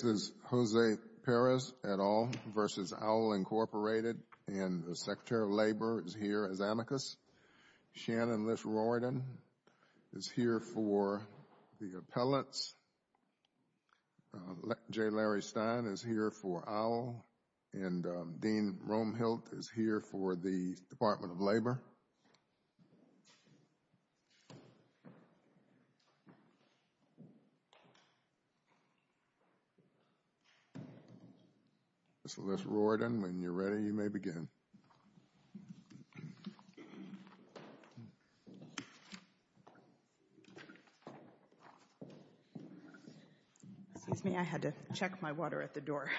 This is Jose Perez et al. v. Owl, Incorporated, and the Secretary of Labor is here as amicus. Shannon Liss-Roridan is here for the appellates. J. Larry Stein is here for Owl, and Dean Roemhildt is here for the Department of Labor. Ms. Liss-Roridan, when you're ready, you may begin. Excuse me, I had to check my water at the door.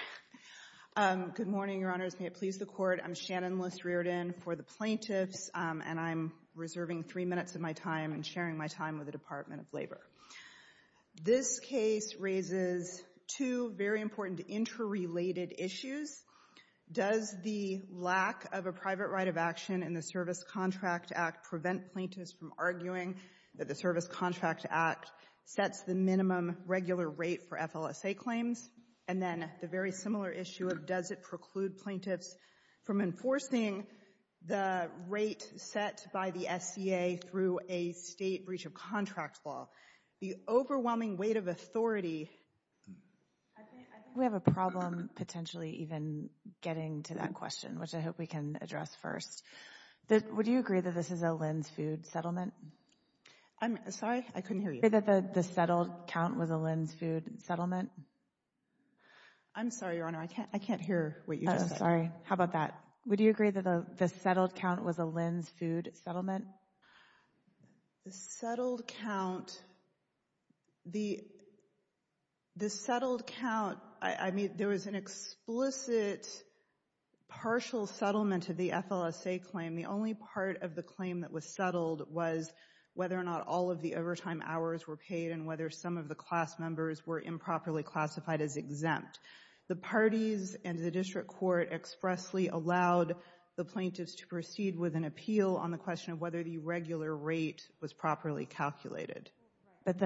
Good morning, Your Honors. May it please the Court, I'm Shannon Liss-Riordan. I'm Shannon Liss-Riordan for the plaintiffs, and I'm reserving three minutes of my time and sharing my time with the Department of Labor. This case raises two very important interrelated issues. Does the lack of a private right of action in the Service Contract Act prevent plaintiffs from arguing that the Service Contract Act sets the minimum regular rate for FLSA claims? And then the very similar issue of does it preclude plaintiffs from enforcing the rate set by the SCA through a state breach of contract law? The overwhelming weight of authority... I think we have a problem potentially even getting to that question, which I hope we can address first. Would you agree that this is a Lynn's Food settlement? I'm sorry? I couldn't hear you. Would you agree that the settled count was a Lynn's Food settlement? I'm sorry, Your Honor. I can't hear what you just said. Oh, sorry. How about that? Would you agree that the settled count was a Lynn's Food settlement? The settled count... The settled count... I mean, there was an explicit partial settlement of the FLSA claim. The only part of the claim that was settled was whether or not all of the overtime hours were paid and whether some of the class members were improperly classified as exempt. The parties and the district court expressly allowed the plaintiffs to proceed with an appeal on the question of whether the regular rate was properly calculated. But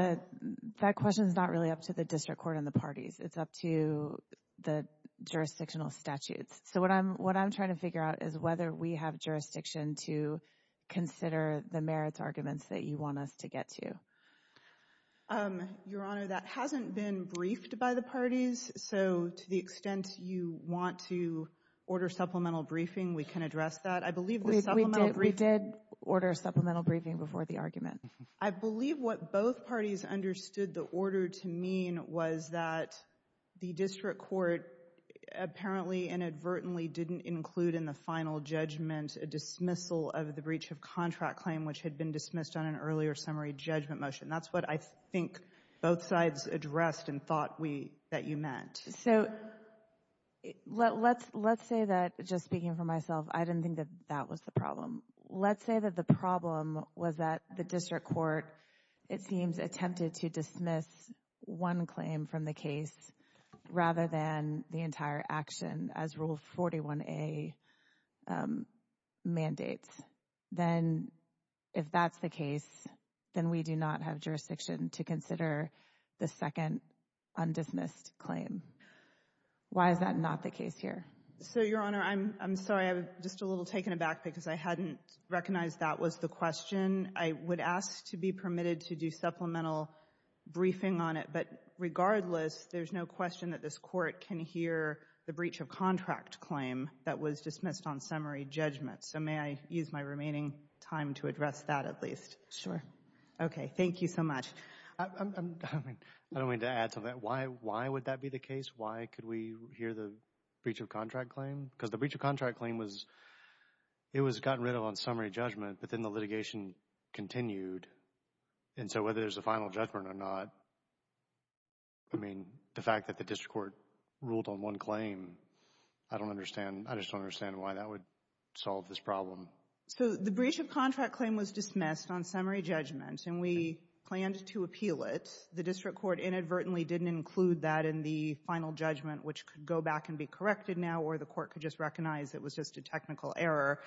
that question is not really up to the district court and the parties. It's up to the jurisdictional statutes. So, what I'm trying to figure out is whether we have jurisdiction to consider the merits arguments that you want us to get to. Your Honor, that hasn't been briefed by the parties, so to the extent you want to order supplemental briefing, we can address that. I believe the supplemental briefing... We did order supplemental briefing before the argument. I believe what both parties understood the order to mean was that the district court apparently inadvertently didn't include in the final judgment a dismissal of the breach of contract claim, which had been dismissed on an earlier summary judgment motion. That's what I think both sides addressed and thought that you meant. So, let's say that, just speaking for myself, I didn't think that that was the problem. Let's say that the problem was that the district court, it seems, attempted to dismiss one the entire action as Rule 41A mandates. Then, if that's the case, then we do not have jurisdiction to consider the second undismissed claim. Why is that not the case here? So, Your Honor, I'm sorry, I'm just a little taken aback because I hadn't recognized that was the question. I would ask to be permitted to do supplemental briefing on it, but regardless, there's no way that the district court can hear the breach of contract claim that was dismissed on summary judgment. So, may I use my remaining time to address that at least? Sure. Okay. Thank you so much. I don't mean to add to that. Why would that be the case? Why could we hear the breach of contract claim? Because the breach of contract claim was, it was gotten rid of on summary judgment, but then the litigation continued. And so, whether there's a final judgment or not, I mean, the fact that the district court ruled on one claim, I don't understand, I just don't understand why that would solve this problem. So, the breach of contract claim was dismissed on summary judgment, and we planned to appeal it. The district court inadvertently didn't include that in the final judgment, which could go back and be corrected now, or the court could just recognize it was just a technical error.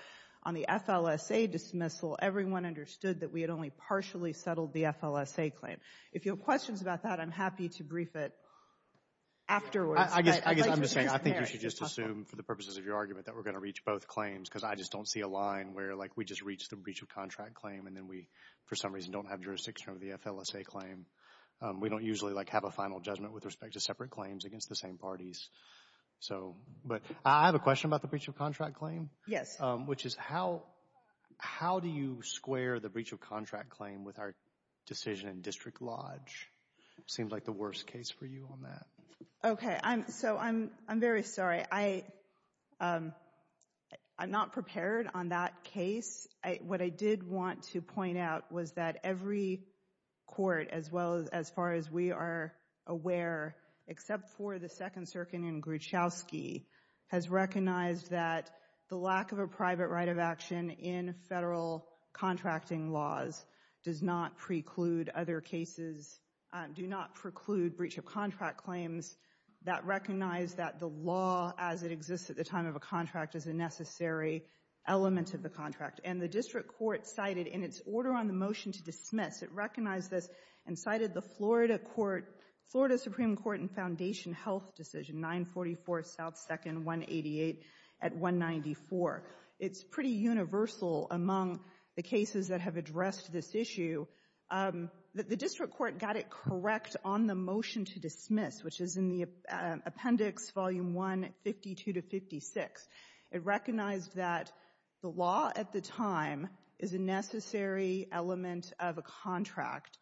On the FLSA dismissal, everyone understood that we had only partially settled the FLSA claim. If you have questions about that, I'm happy to brief it afterwards. I guess I'm just saying, I think you should just assume for the purposes of your argument that we're going to reach both claims, because I just don't see a line where, like, we just reached the breach of contract claim, and then we, for some reason, don't have jurisdiction over the FLSA claim. We don't usually, like, have a final judgment with respect to separate claims against the same parties. So, but I have a question about the breach of contract claim. Yes. Which is, how do you square the breach of contract claim with our decision in District Lodge? It seems like the worst case for you on that. Okay. So, I'm very sorry. I'm not prepared on that case. What I did want to point out was that every court, as far as we are aware, except for the Second Circuit in Gruchowski, has recognized that the lack of a private right of action in Federal contracting laws does not preclude other cases, do not preclude breach of contract claims that recognize that the law as it exists at the time of a contract is a necessary element of the contract. And the District Court cited in its order on the motion to dismiss, it recognized this and cited the Florida Court, Florida Supreme Court and Foundation Health Decision, 944 South 2nd, 188 at 194. It's pretty universal among the cases that have addressed this issue. The District Court got it correct on the motion to dismiss, which is in the Appendix Volume 1, 52 to 56. It recognized that the law at the time is a necessary element of a contract.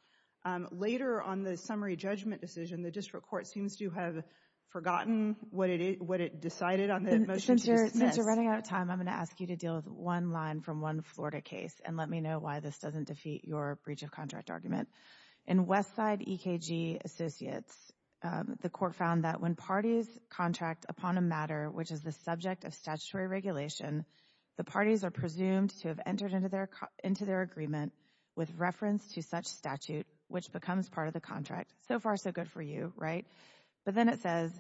Later on the summary judgment decision, the District Court seems to have forgotten what it decided on the motion to dismiss. Since you're running out of time, I'm going to ask you to deal with one line from one Florida case and let me know why this doesn't defeat your breach of contract argument. In Westside EKG Associates, the court found that when parties contract upon a matter which is the subject of statutory regulation, the parties are presumed to have entered into their agreement with reference to such statute, which becomes part of the contract. So far so good for you, right? But then it says,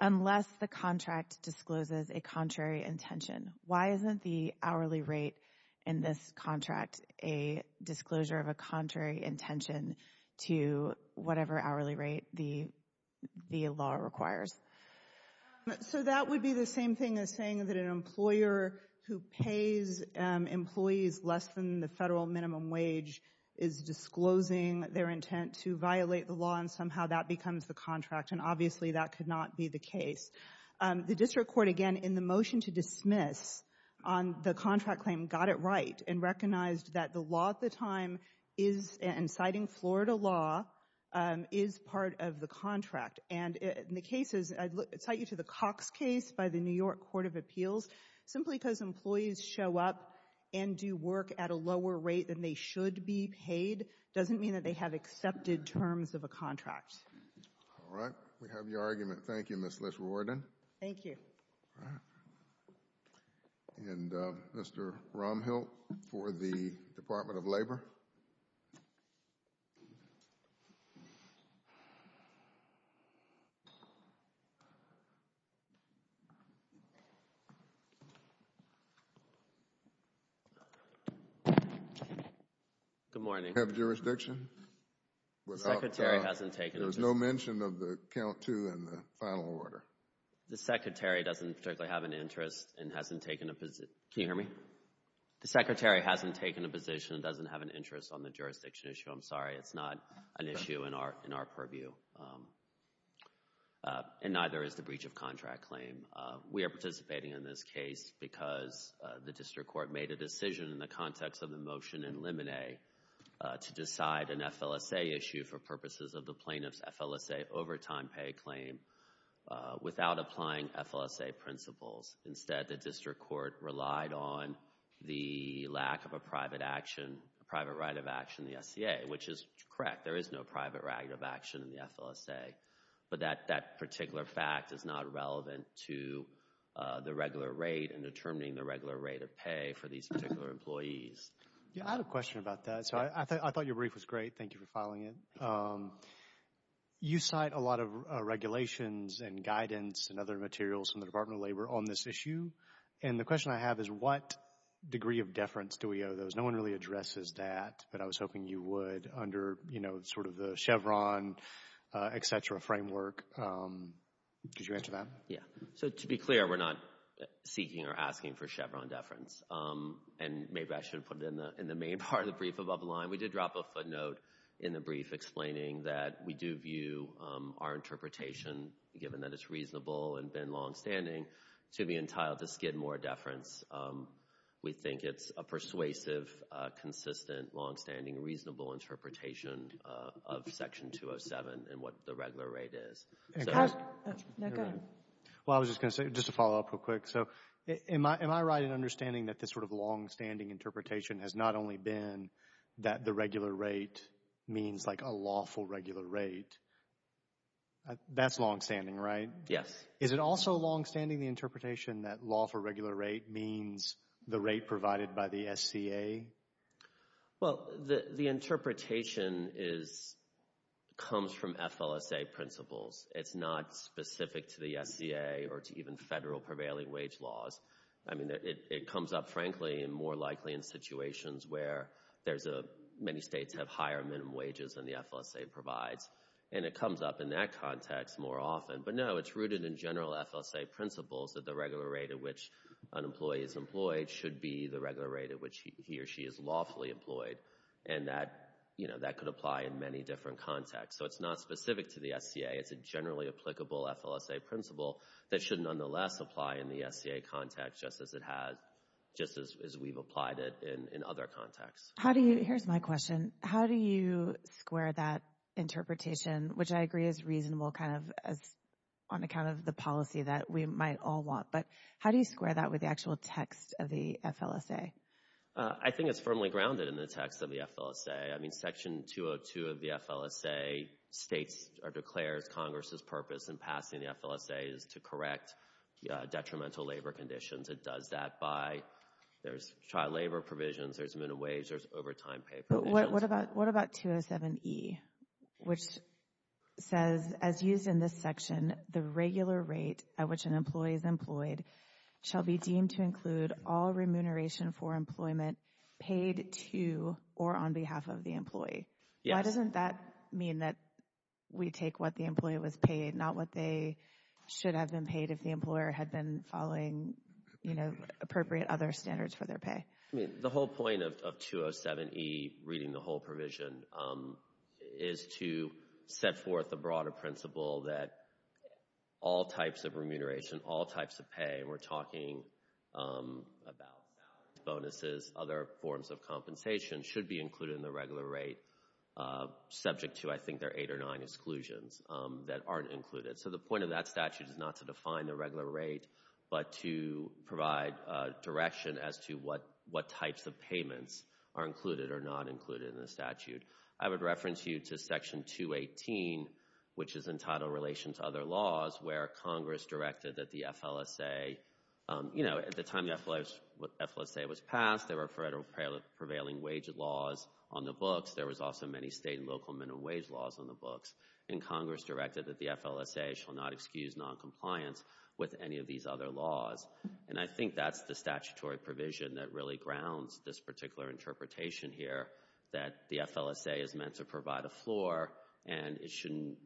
unless the contract discloses a contrary intention. Why isn't the hourly rate in this contract a disclosure of a contrary intention to whatever hourly rate the law requires? So that would be the same thing as saying that an employer who pays employees less than the federal minimum wage is disclosing their intent to violate the law and somehow that becomes the contract, and obviously that could not be the case. The District Court, again, in the motion to dismiss on the contract claim, got it right and recognized that the law at the time is, and citing Florida law, is part of the contract. And in the cases, I'd cite you to the Cox case by the New York Court of Appeals, simply because employees show up and do work at a lower rate than they should be paid doesn't mean that they have accepted terms of a contract. All right. We have your argument. Thank you, Ms. Liss-Rordan. Thank you. All right. And Mr. Romhill for the Department of Labor. Mr. Romhill, for the Department of Labor. Good morning. Do you have a jurisdiction? The Secretary hasn't taken a position. There was no mention of the count to and the final order. The Secretary doesn't particularly have an interest and hasn't taken a position. Can you hear me? The Secretary hasn't taken a position and doesn't have an interest on the jurisdiction issue. I'm sorry. It's not an issue in our purview and neither is the breach of contract claim. We are participating in this case because the district court made a decision in the context of the motion in Lemonet to decide an FLSA issue for purposes of the plaintiff's FLSA overtime pay claim without applying FLSA principles. Instead, the district court relied on the lack of a private action, a private right of action in the SCA, which is correct. There is no private right of action in the FLSA, but that particular fact is not relevant to the regular rate and determining the regular rate of pay for these particular employees. Yeah, I had a question about that, so I thought your brief was great. Thank you for filing it. You cite a lot of regulations and guidance and other materials from the Department of Justice issue, and the question I have is what degree of deference do we owe those? No one really addresses that, but I was hoping you would under, you know, sort of the Chevron, et cetera, framework. Did you answer that? Yeah. So, to be clear, we're not seeking or asking for Chevron deference, and maybe I should put it in the main part of the brief above the line. We did drop a footnote in the brief explaining that we do view our interpretation, given that it's reasonable and been longstanding, to be entitled to skid more deference. We think it's a persuasive, consistent, longstanding, reasonable interpretation of Section 207 and what the regular rate is. Now, go ahead. Well, I was just going to say, just to follow up real quick, so am I right in understanding that this sort of longstanding interpretation has not only been that the regular rate means like a lawful regular rate? That's longstanding, right? Yes. Is it also longstanding, the interpretation that lawful regular rate means the rate provided by the SCA? Well, the interpretation comes from FLSA principles. It's not specific to the SCA or to even federal prevailing wage laws. I mean, it comes up, frankly, and more likely in situations where there's a, many states have higher minimum wages than the FLSA provides, and it comes up in that context more often. But no, it's rooted in general FLSA principles that the regular rate at which an employee is employed should be the regular rate at which he or she is lawfully employed. And that, you know, that could apply in many different contexts. So it's not specific to the SCA. It's a generally applicable FLSA principle that should nonetheless apply in the SCA context just as it has, just as we've applied it in other contexts. How do you, here's my question, how do you square that interpretation, which I agree is reasonable kind of as on account of the policy that we might all want, but how do you square that with the actual text of the FLSA? I think it's firmly grounded in the text of the FLSA. I mean, Section 202 of the FLSA states or declares Congress's purpose in passing the FLSA is to correct detrimental labor conditions. It does that by, there's child labor provisions, there's minimum wage, there's overtime pay provisions. But what about, what about 207E, which says, as used in this section, the regular rate at which an employee is employed shall be deemed to include all remuneration for employment paid to or on behalf of the employee. Why doesn't that mean that we take what the employee was paid, not what they should have been paid if the employer had been following, you know, appropriate other standards for their pay? I mean, the whole point of 207E, reading the whole provision, is to set forth the broader principle that all types of remuneration, all types of pay, and we're talking about bonuses, other forms of compensation, should be included in the regular rate, subject to, I think, their eight or nine exclusions that aren't included. So the point of that statute is not to define the regular rate, but to provide direction as to what types of payments are included or not included in the statute. I would reference you to Section 218, which is in title relation to other laws, where Congress directed that the FLSA, you know, at the time the FLSA was passed, there were federal prevailing wage laws on the books. There was also many state and local minimum wage laws on the books, and Congress directed that the FLSA shall not excuse noncompliance with any of these other laws. And I think that's the statutory provision that really grounds this particular interpretation here that the FLSA is meant to provide a floor, and it shouldn't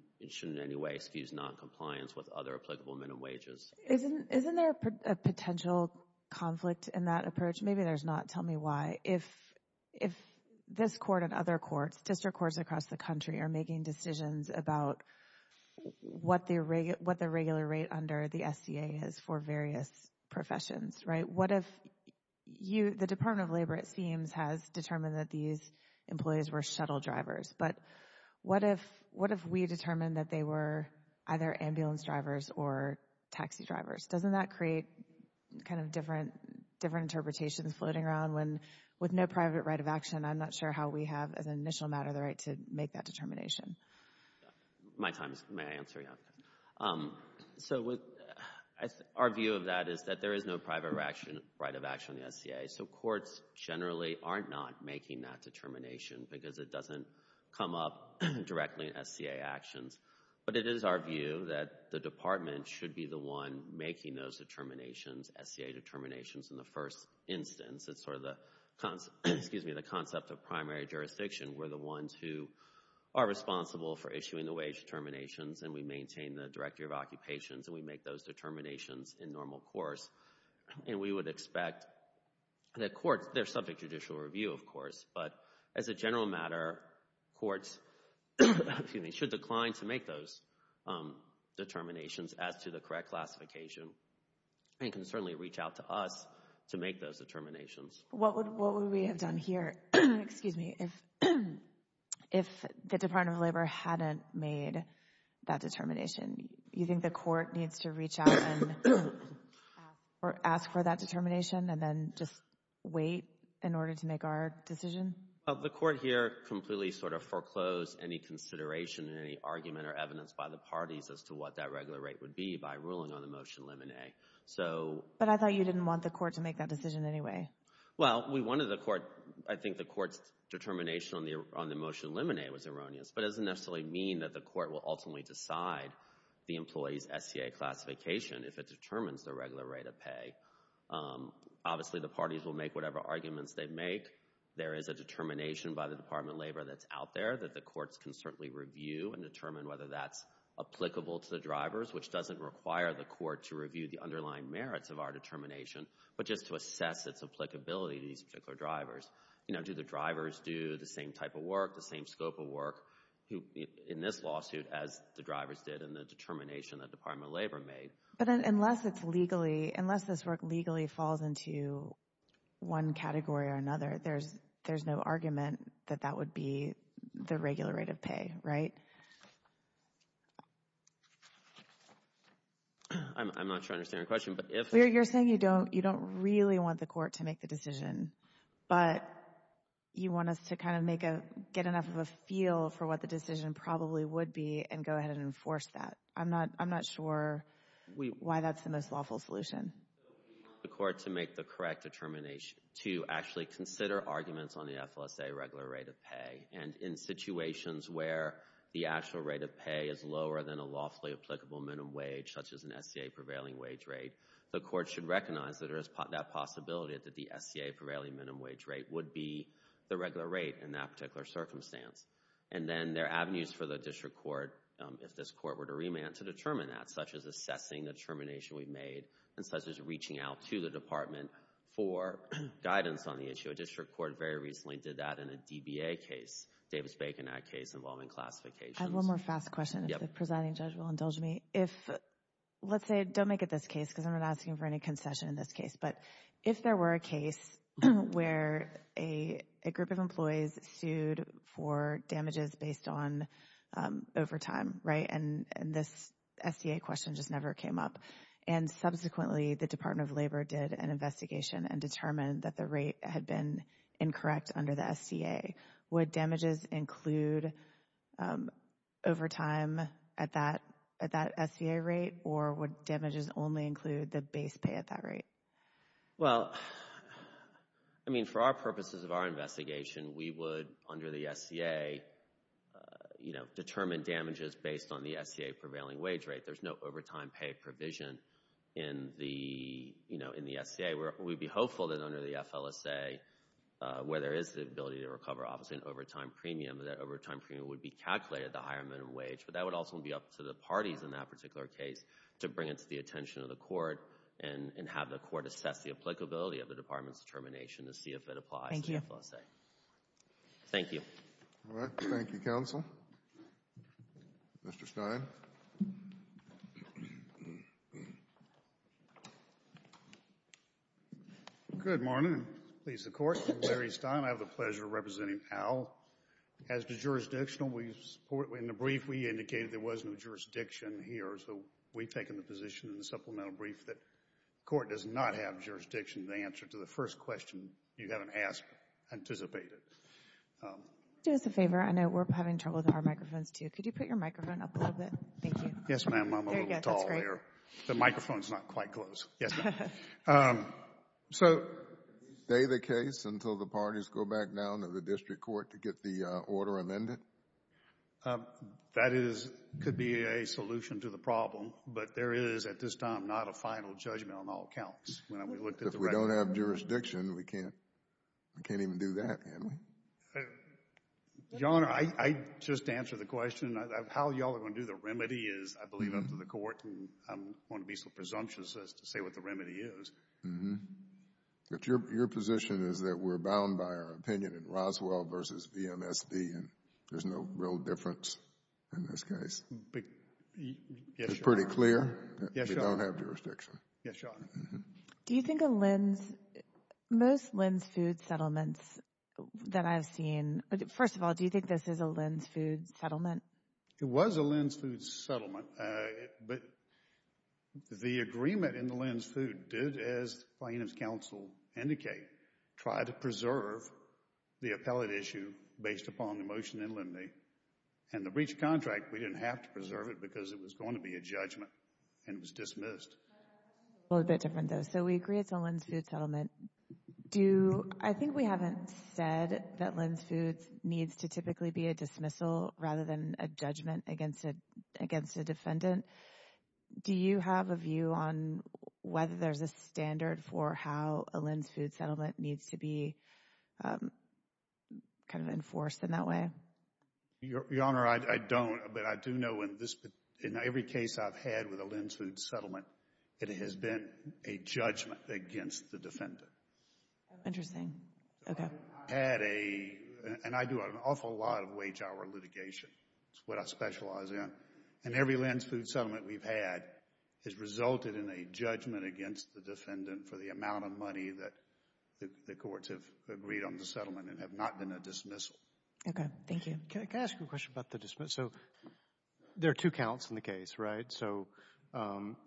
in any way excuse noncompliance with other applicable minimum wages. Isn't there a potential conflict in that approach? Maybe there's not. Tell me why. If this court and other courts, district courts across the country, are making decisions about what the regular rate under the SCA is for various professions, right, what if you, the Department of Labor, it seems, has determined that these employees were shuttle drivers, but what if we determined that they were either ambulance drivers or taxi drivers? Doesn't that create kind of different interpretations floating around when, with no private right of action, I'm not sure how we have, as an initial matter, the right to make that determination. My time is, may I answer, yeah. So our view of that is that there is no private right of action in the SCA, so courts generally aren't not making that determination because it doesn't come up directly in SCA actions. But it is our view that the department should be the one making those determinations, SCA determinations, in the first instance. It's sort of the concept, excuse me, the concept of primary jurisdiction. We're the ones who are responsible for issuing the wage determinations, and we maintain the director of occupations, and we make those determinations in normal course. And we would expect that courts, they're subject to judicial review, of course, but as a general matter, courts should decline to make those determinations as to the correct classification and can certainly reach out to us to make those determinations. What would we have done here, excuse me, if the Department of Labor hadn't made that determination? You think the court needs to reach out and ask for that determination and then just wait in order to make our decision? The court here completely sort of foreclosed any consideration, any argument or evidence by the parties as to what that regular rate would be by ruling on the motion limine. So... But I thought you didn't want the court to make that decision anyway. Well, we wanted the court, I think the court's determination on the motion limine was erroneous, but it doesn't necessarily mean that the court will ultimately decide the employee's SCA classification if it determines the regular rate of pay. Obviously, the parties will make whatever arguments they make. There is a determination by the Department of Labor that's out there that the courts can certainly review and determine whether that's applicable to the drivers, which doesn't require the court to review the underlying merits of our determination, but just to assess its applicability to these particular drivers. You know, do the drivers do the same type of work, the same scope of work in this lawsuit as the drivers did in the determination that the Department of Labor made? But unless it's legally, unless this work legally falls into one category or another, there's no argument that that would be the regular rate of pay, right? I'm not sure I understand your question, but if... You're saying you don't really want the court to make the decision, but you want us to kind of make a, get enough of a feel for what the decision probably would be and go ahead and enforce that. I'm not sure why that's the most lawful solution. We want the court to make the correct determination to actually consider arguments on the FLSA regular rate of pay, and in situations where the actual rate of pay is lower than a lawfully applicable minimum wage, such as an SCA prevailing wage rate, the court should recognize that there is that possibility that the SCA prevailing minimum wage rate would be the regular rate in that particular circumstance. And then there are avenues for the district court, if this court were to remand, to determine that, such as assessing the determination we've made, and such as reaching out to the department for guidance on the issue. A district court very recently did that in a DBA case, Davis-Bacon Act case involving classifications. I have one more fast question, if the presiding judge will indulge me. If, let's say, don't make it this case, because I'm not asking for any concession in this case, but if there were a case where a group of employees sued for damages based on overtime, and this SCA question just never came up, and subsequently the Department of Labor did an investigation and determined that the rate had been incorrect under the SCA, would damages include overtime at that SCA rate, or would damages only include the base pay at that rate? Well, I mean, for our purposes of our investigation, we would, under the SCA, determine damages based on the SCA prevailing wage rate. There's no overtime pay provision in the, you know, in the SCA. We'd be hopeful that under the FLSA, where there is the ability to recover office and overtime premium, that overtime premium would be calculated at a higher minimum wage, but that would also be up to the parties in that particular case to bring it to the attention of the court and have the court assess the applicability of the department's determination to see if it applies to the FLSA. Thank you. All right. Thank you, counsel. Mr. Stein. Good morning. I'm pleased to court. I'm Larry Stein. I have the pleasure of representing Al. As to jurisdictional, we support, in the brief, we indicated there was no jurisdiction here, so we've taken the position in the supplemental brief that court does not have jurisdiction to answer to the first question you haven't asked or anticipated. Do us a favor. I know we're having trouble with our microphones, too. Could you put your microphone up a little bit? Thank you. Yes, ma'am. I'm a little tall here. There you go. That's great. The microphone's not quite close. Yes, ma'am. So, is they the case until the parties go back down to the district court to get the order amended? That is, could be a solution to the problem, but there is, at this time, not a final judgment on all counts. If we don't have jurisdiction, we can't, we can't even do that, can we? Your Honor, I just answered the question. How y'all are going to do the remedy is, I believe, up to the court, and I'm going to be so presumptuous as to say what the remedy is. But your position is that we're bound by our opinion in Roswell versus VMSD, and there's no real difference in this case. Yes, Your Honor. It's pretty clear. We don't have jurisdiction. Yes, Your Honor. Do you think a LENDS, most LENDS food settlements that I've seen, first of all, do you think this is a LENDS food settlement? It was a LENDS food settlement, but the agreement in the LENDS food did, as plaintiff's counsel indicate, try to preserve the appellate issue based upon the motion in LENDY. And the breach of contract, we didn't have to preserve it because it was going to be a judgment, and it was dismissed. A little bit different, though. So we agree it's a LENDS food settlement. Do, I think we haven't said that LENDS food needs to typically be a dismissal rather than a judgment against a defendant. Do you have a view on whether there's a standard for how a LENDS food settlement needs to be kind of enforced in that way? Your Honor, I don't. But I do know in this, in every case I've had with a LENDS food settlement, it has been a judgment against the defendant. Interesting. Okay. I've had a, and I do an awful lot of wage hour litigation. It's what I specialize in. And every LENDS food settlement we've had has resulted in a judgment against the defendant for the amount of money that the courts have agreed on the settlement and have not been a dismissal. Okay. Thank you. Can I ask you a question about the dismissal? So there are two counts in the case, right? So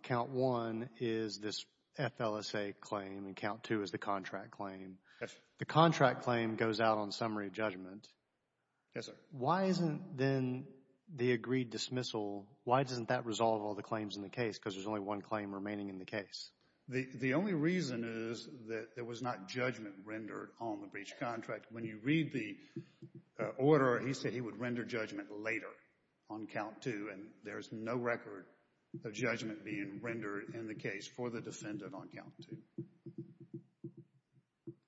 count one is this FLSA claim and count two is the contract claim. The contract claim goes out on summary judgment. Yes, sir. Why isn't then the agreed dismissal, why doesn't that resolve all the claims in the case? Because there's only one claim remaining in the case. The only reason is that there was not judgment rendered on the breach contract. When you read the order, he said he would render judgment later on count two, and there's no record of judgment being rendered in the case for the defendant on count two.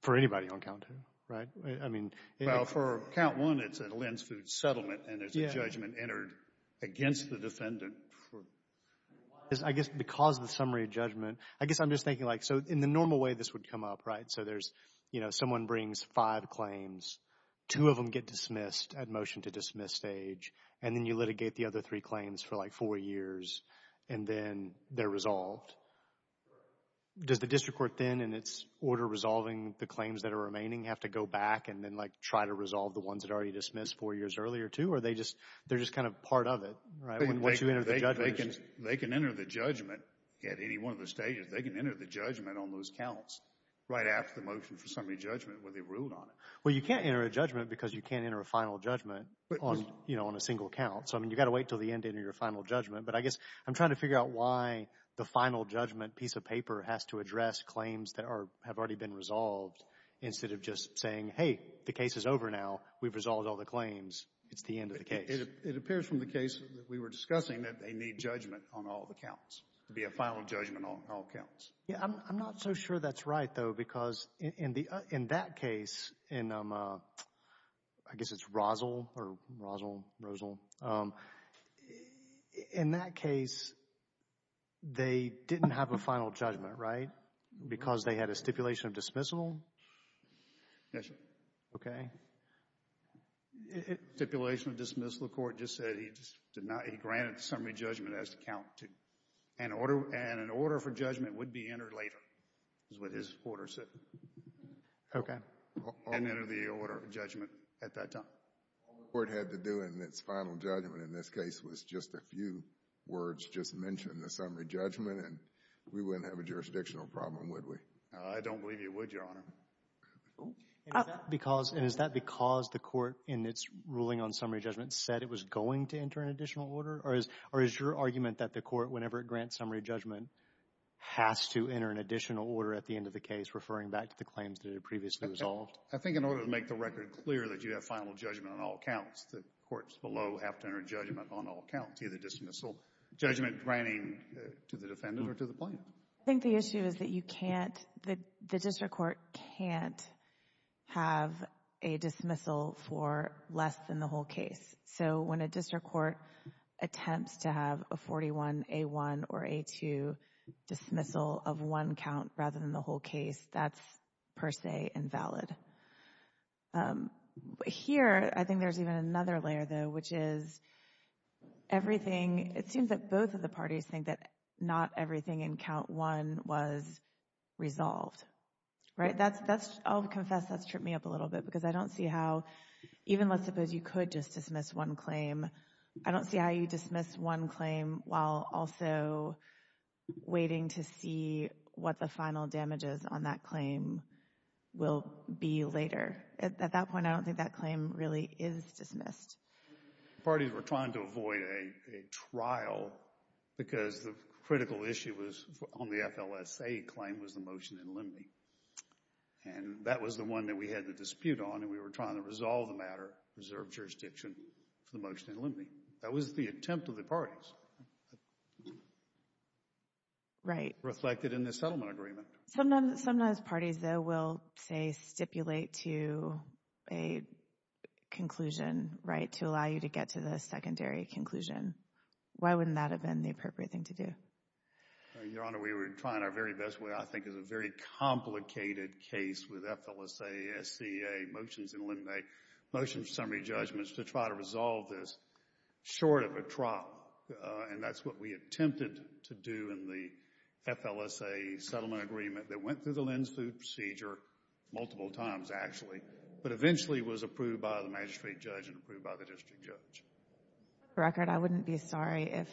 For anybody on count two, right? I mean, it... Well, for count one, it's a LENDS food settlement and it's a judgment entered against the defendant for... I guess because of the summary judgment, I guess I'm just thinking like, so in the normal way, this would come up, right? So there's, you know, someone brings five claims, two of them get dismissed at motion to dismiss stage, and then you litigate the other three claims for like four years, and then they're resolved. Does the district court then, in its order resolving the claims that are remaining, have to go back and then like try to resolve the ones that are already dismissed four years earlier, too? Or they just, they're just kind of part of it, right? Once you enter the judgment. They can enter the judgment at any one of the stages. They can enter the judgment on those counts right after the motion for summary judgment where they ruled on it. Well, you can't enter a judgment because you can't enter a final judgment on, you know, on a single count. So, I mean, you've got to wait until the end to enter your final judgment. But I guess I'm trying to figure out why the final judgment piece of paper has to address claims that are, have already been resolved instead of just saying, hey, the case is over now. We've resolved all the claims. It's the end of the case. It appears from the case that we were discussing that they need judgment on all the counts. It would be a final judgment on all counts. Yeah, I'm not so sure that's right, though, because in that case, in, I guess it's Rosal, or Rosal, Rosal, in that case, they didn't have a final judgment, right? Because they had a stipulation of dismissal? Yes, sir. Okay. Stipulation of dismissal. Because the court just said he did not, he granted the summary judgment as the count two. And an order for judgment would be entered later, is what his order said. Okay. And enter the order of judgment at that time. All the court had to do in its final judgment in this case was just a few words, just mention the summary judgment, and we wouldn't have a jurisdictional problem, would we? I don't believe you would, Your Honor. And is that because the court, in its ruling on summary judgment, said it was going to enter an additional order? Or is your argument that the court, whenever it grants summary judgment, has to enter an additional order at the end of the case, referring back to the claims that it previously resolved? I think in order to make the record clear that you have final judgment on all counts, the courts below have to enter judgment on all counts, either dismissal judgment granting to the defendant or to the plaintiff. I think the issue is that you can't, that the district court can't have a dismissal for less than the whole case. So when a district court attempts to have a 41A1 or A2 dismissal of one count rather than the whole case, that's per se invalid. Here, I think there's even another layer, though, which is everything, it seems that both of the parties think that not everything in count one was resolved. Right? That's, I'll confess, that's tripped me up a little bit because I don't see how, even let's suppose you could just dismiss one claim, I don't see how you dismiss one claim while also waiting to see what the final damages on that claim will be later. At that point, I don't think that claim really is dismissed. Parties were trying to avoid a trial because the critical issue was on the FLSA claim was the motion in limine. And that was the one that we had the dispute on and we were trying to resolve the matter, reserve jurisdiction for the motion in limine. That was the attempt of the parties. Right. Reflected in the settlement agreement. Sometimes, sometimes parties, though, will say stipulate to a conclusion, right, to allow you to get to the secondary conclusion. Why wouldn't that have been the appropriate thing to do? Your Honor, we were trying our very best, what I think is a very complicated case with FLSA, SCA, motions in limine, motion summary judgments to try to resolve this short of a trial. And that's what we attempted to do in the FLSA settlement agreement that went through the Lynn's Food Procedure multiple times, actually, but eventually was approved by the magistrate judge and approved by the district judge. For the record, I wouldn't be sorry if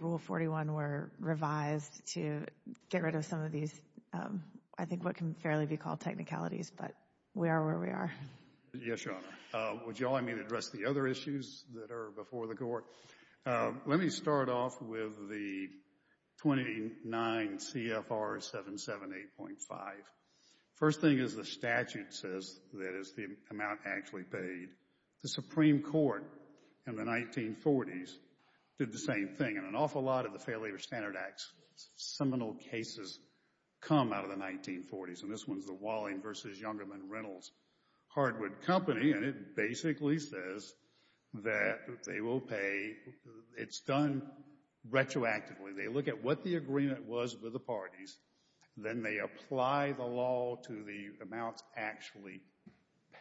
Rule 41 were revised to get rid of some of these, I think what can fairly be called technicalities, but we are where we are. Yes, Your Honor. Would you all, I mean, address the other issues that are before the Court? Let me start off with the 29 CFR 778.5. First thing is the statute says that it's the amount actually paid. The Supreme Court in the 1940s did the same thing. And an awful lot of the Fair Labor Standard Act's seminal cases come out of the 1940s. And this one's the Walling v. Youngerman Rentals Hardwood Company, and it basically says that they will pay, it's done retroactively. They look at what the agreement was with the parties, then they apply the law to the amounts actually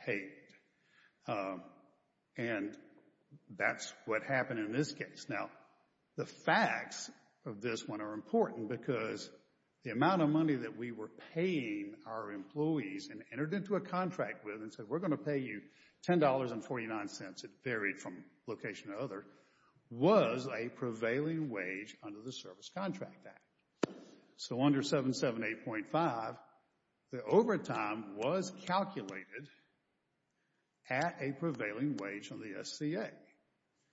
paid. And that's what happened in this case. Now, the facts of this one are important because the amount of money that we were paying our employees and entered into a contract with and said, we're going to pay you $10.49, it varied from location to other, was a prevailing wage under the Service Contract Act. So under 778.5, the overtime was calculated at a prevailing wage on the SCA.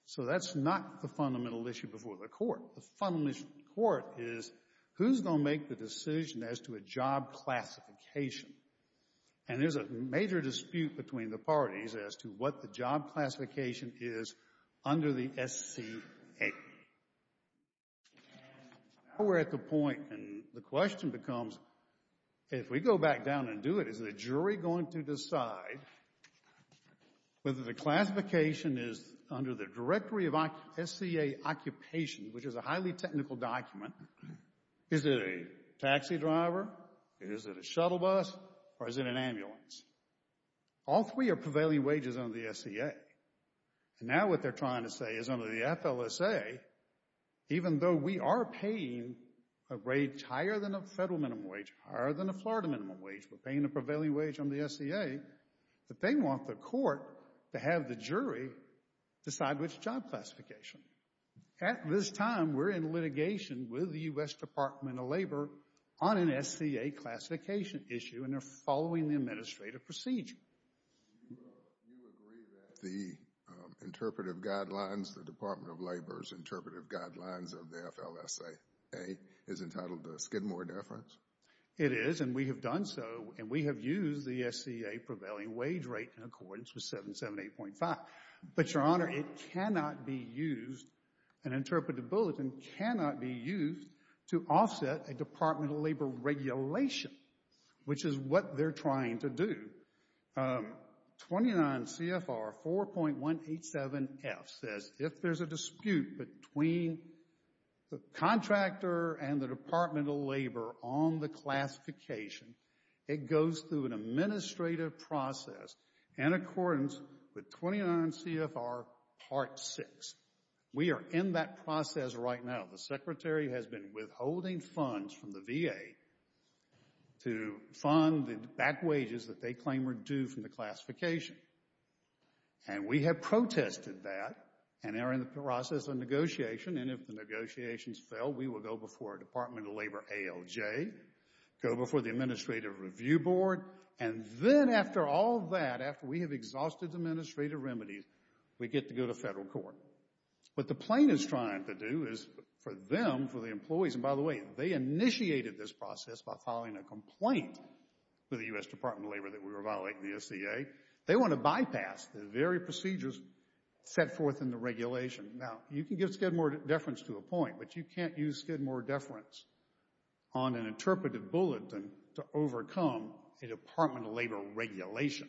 So that's not the fundamental issue before the court. The fundamental issue before the court is who's going to make the decision as to a job classification? And there's a major dispute between the parties as to what the job classification is under the SCA. Now we're at the point, and the question becomes, if we go back down and do it, is the jury going to decide whether the classification is under the directory of SCA occupation, which is a highly technical document, is it a taxi driver, is it a shuttle bus, or is it an ambulance? All three are prevailing wages under the SCA. And now what they're trying to say is under the FLSA, even though we are paying a wage higher than a federal minimum wage, higher than a Florida minimum wage, we're paying a prevailing wage under the SCA, but they want the court to have the jury decide which job classification. At this time, we're in litigation with the U.S. Department of Labor on an SCA classification issue, and they're following the administrative procedure. Do you agree that the interpretive guidelines, the Department of Labor's interpretive guidelines of the FLSA is entitled to a Skidmore deference? It is, and we have done so, and we have used the SCA prevailing wage rate in accordance with 778.5. But, Your Honor, it cannot be used, an interpretive bulletin cannot be used, to offset a Department of Labor regulation, which is what they're trying to do. 29 CFR 4.187F says if there's a dispute between the contractor and the Department of Labor on the classification, it goes through an administrative process in accordance with 29 CFR Part 6. We are in that process right now. The Secretary has been withholding funds from the VA to fund the back wages that they claim are due from the classification. And we have protested that, and are in the process of negotiation, and if the negotiations fail, we will go before Department of Labor ALJ, go before the Administrative Review Board, and then after all that, after we have exhausted the administrative remedies, we get to go to federal court. What the plaintiff's trying to do is, for them, for the employees, and by the way, they initiated this process by filing a complaint to the U.S. Department of Labor that we were violating the SCA. They want to bypass the very procedures set forth in the regulation. Now, you can give Skidmore deference to a point, but you can't use Skidmore deference on an interpretive bulletin to overcome a Department of Labor regulation.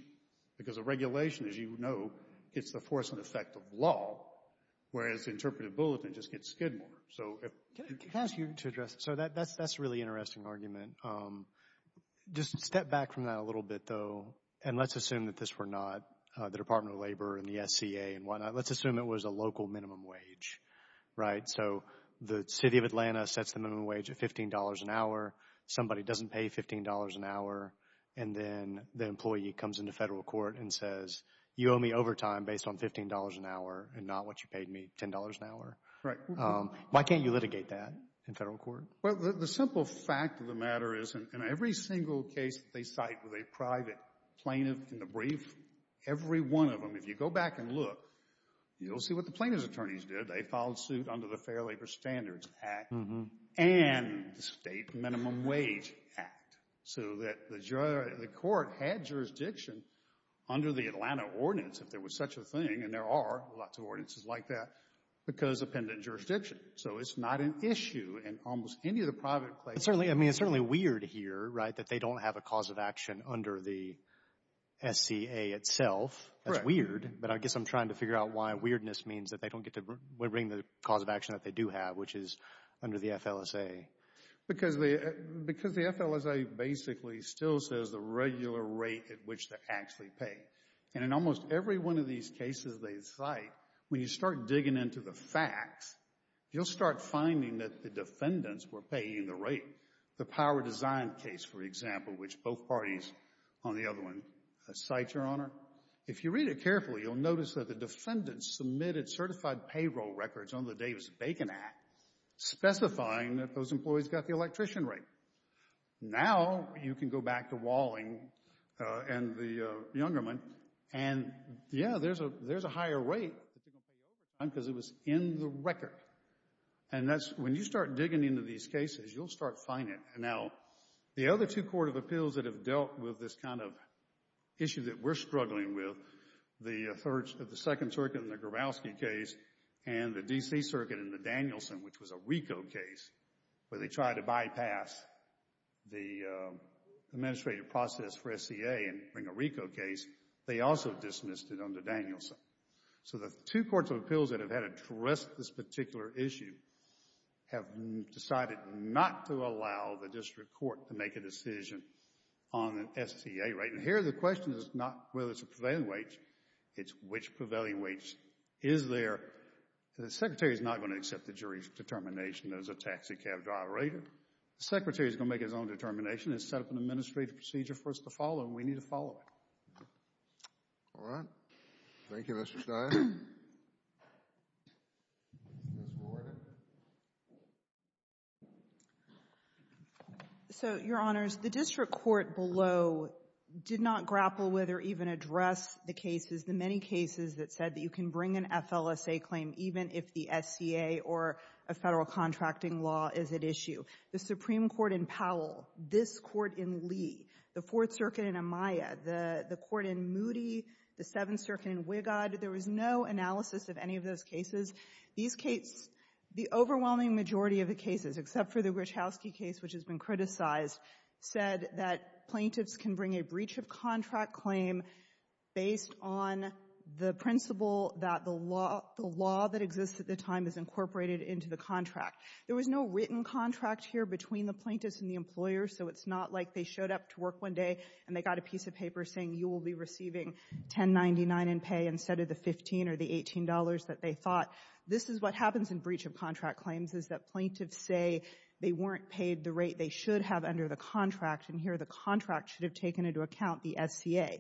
Because a regulation, as you know, gets the force and effect of law, whereas the interpretive bulletin just gets Skidmore. So if... Can I ask you to address... So that's a really interesting argument. Just step back from that a little bit, though, and let's assume that this were not the Department of Labor and the SCA and whatnot. Let's assume it was a local minimum wage, right? So the City of Atlanta sets the minimum wage at $15 an hour. Somebody doesn't pay $15 an hour, and then the employee comes into federal court and says, you owe me overtime based on $15 an hour and not what you paid me, $10 an hour. Right. Why can't you litigate that in federal court? Well, the simple fact of the matter is, in every single case that they cite with a private plaintiff in the brief, every one of them, if you go back and look, you'll see what the plaintiff's attorneys did. They filed suit under the Fair Labor Standards Act and the State Minimum Wage Act. So that the court had jurisdiction under the Atlanta ordinance, if there was such a thing, and there are lots of ordinances like that, because of pendent jurisdiction. So it's not an issue in almost any of the private plaintiffs. I mean, it's certainly weird here, right, that they don't have a cause of action under the SCA itself. That's weird, but I guess I'm trying to figure out why weirdness means that they don't get to bring the cause of action that they do have, which is under the FLSA. Because the FLSA basically still says the regular rate at which they actually pay. And in almost every one of these cases they cite, when you start digging into the facts, you'll start finding that the defendants were paying the rate. The Power Design case, for example, which both parties on the other one cite, Your Honor, if you read it carefully, you'll notice that the defendants submitted certified payroll records under the Davis-Bacon Act, specifying that those employees got the electrician rate. Now you can go back to Walling and the Youngerman, and yeah, there's a higher rate that they're going to pay overtime, because it was in the record. And that's, when you start digging into these cases, you'll start finding it. Now, the other two court of appeals that have dealt with this kind of issue that we're struggling with, the second circuit in the Grabowski case, and the D.C. circuit in the Danielson, which was a RICO case, where they tried to bypass the administrative process for SCA and bring a RICO case, they also dismissed it under Danielson. So the two courts of appeals that have had to address this particular issue have decided not to allow the district court to make a decision on an SCA rate. And here the question is not whether it's a prevailing wage, it's which prevailing wage is there. The secretary is not going to accept the jury's determination as a taxicab driver, either. The secretary is going to make his own determination and set up an administrative procedure for us to follow, and we need to follow it. All right. Thank you, Mr. Stein. Ms. Rordan. So, Your Honors, the district court below did not grapple with or even address the cases, the many cases that said that you can bring an FLSA claim even if the SCA or a federal contracting law is at issue. The Supreme Court in Powell, this court in Lee, the Fourth Circuit in Amaya, the court in Moody, the Seventh Circuit in Wigod, there was no analysis of any of those cases. These cases, the overwhelming majority of the cases, except for the Gruchowski case, which has been criticized, said that plaintiffs can bring a breach of contract claim based on the principle that the law that exists at the time is incorporated into the contract. There was no written contract here between the plaintiffs and the employers, so it's not like they showed up to work one day and they got a piece of paper saying you will be receiving $10.99 in pay instead of the $15 or the $18 that they thought. This is what happens in breach of contract claims, is that plaintiffs say they weren't paid the rate they should have under the contract, and here the contract should have taken into account the SCA.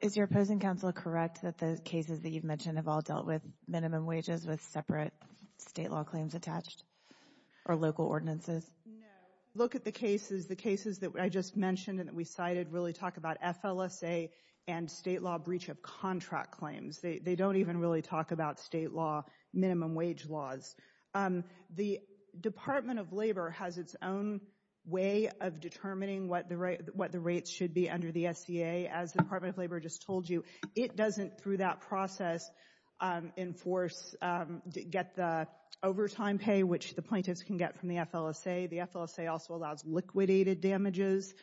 Is your opposing counsel correct that the cases that you've mentioned have all dealt with minimum wages with separate state law claims attached or local ordinances? No. Look at the cases. The cases that I just mentioned and that we cited really talk about FLSA and state law breach of contract claims. They don't even really talk about state law minimum wage laws. The Department of Labor has its own way of determining what the rates should be under the SCA. As the Department of Labor just told you, it doesn't, through that process, enforce, get the overtime pay, which the plaintiffs can get from the FLSA. The FLSA also allows liquidated damages,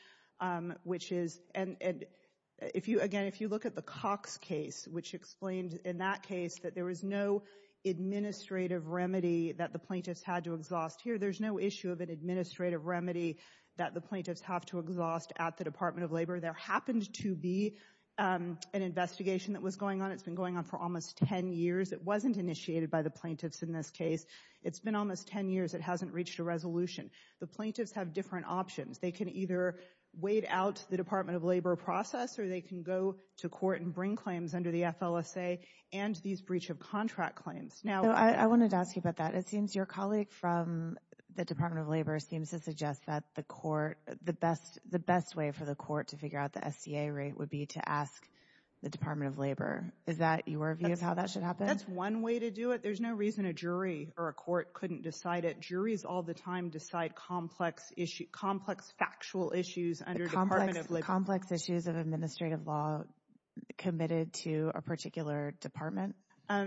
which is, and again, if you look at the Cox case, which explained in that case that there was no administrative remedy that the plaintiffs had to exhaust here. There's no issue of an administrative remedy that the plaintiffs have to exhaust at the Department of Labor. There happened to be an investigation that was going on. It's been going on for almost 10 years. It wasn't initiated by the plaintiffs in this case. It's been almost 10 years. It hasn't reached a resolution. The plaintiffs have different options. They can either wait out the Department of Labor process, or they can go to court and bring claims under the FLSA and these breach of contract claims. I wanted to ask you about that. It seems your colleague from the Department of Labor seems to suggest that the court, the best way for the court to figure out the SCA rate would be to ask the Department of Labor. Is that your view of how that should happen? That's one way to do it. There's no reason a jury or a court couldn't decide it. Juries all the time decide complex factual issues under the Department of Labor. Complex issues of administrative law committed to a particular department?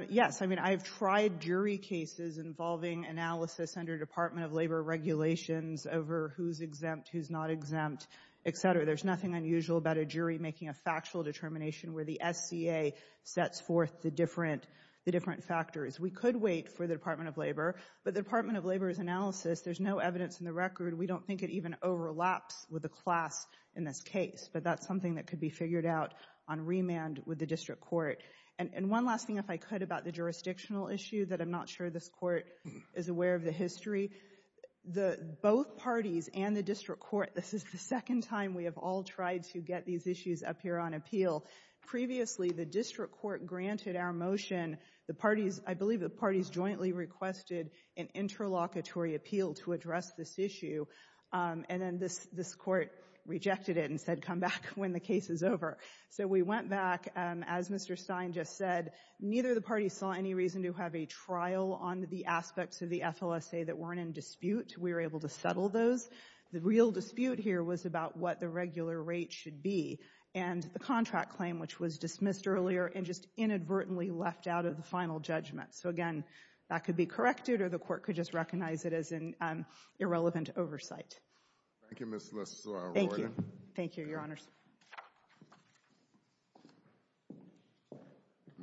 Yes. I've tried jury cases involving analysis under Department of Labor regulations over who's exempt, who's not exempt, etc. There's nothing unusual about a jury making a factual determination where the SCA sets forth the different factors. We could wait for the Department of Labor, but the Department of Labor's analysis, there's no evidence in the record. We don't think it even overlaps with the class in this case, but that's something that could be figured out on remand with the district court. And one last thing, if I could, about the jurisdictional issue that I'm not sure this court is aware of the history. Both parties and the district court, this is the second time we have all tried to get these issues up here on appeal. Previously, the district court granted our motion. I believe the parties jointly requested an interlocutory appeal to address this issue, and then this court rejected it and said, come back when the case is over. So we went back, as Mr. Stein just said, neither of the parties saw any reason to have a trial on the aspects of the FLSA that weren't in dispute. We were able to settle those. The real dispute here was about what the regular rate should be and the contract claim, which was dismissed earlier and just inadvertently left out of the final judgment. So again, that could be corrected or the court could just recognize it as an irrelevant oversight. Thank you, Ms. Royden. Thank you, Your Honors.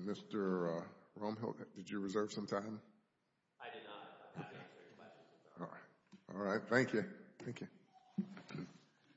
Mr. Romhill, did you reserve some time? I did not. All right. Thank you.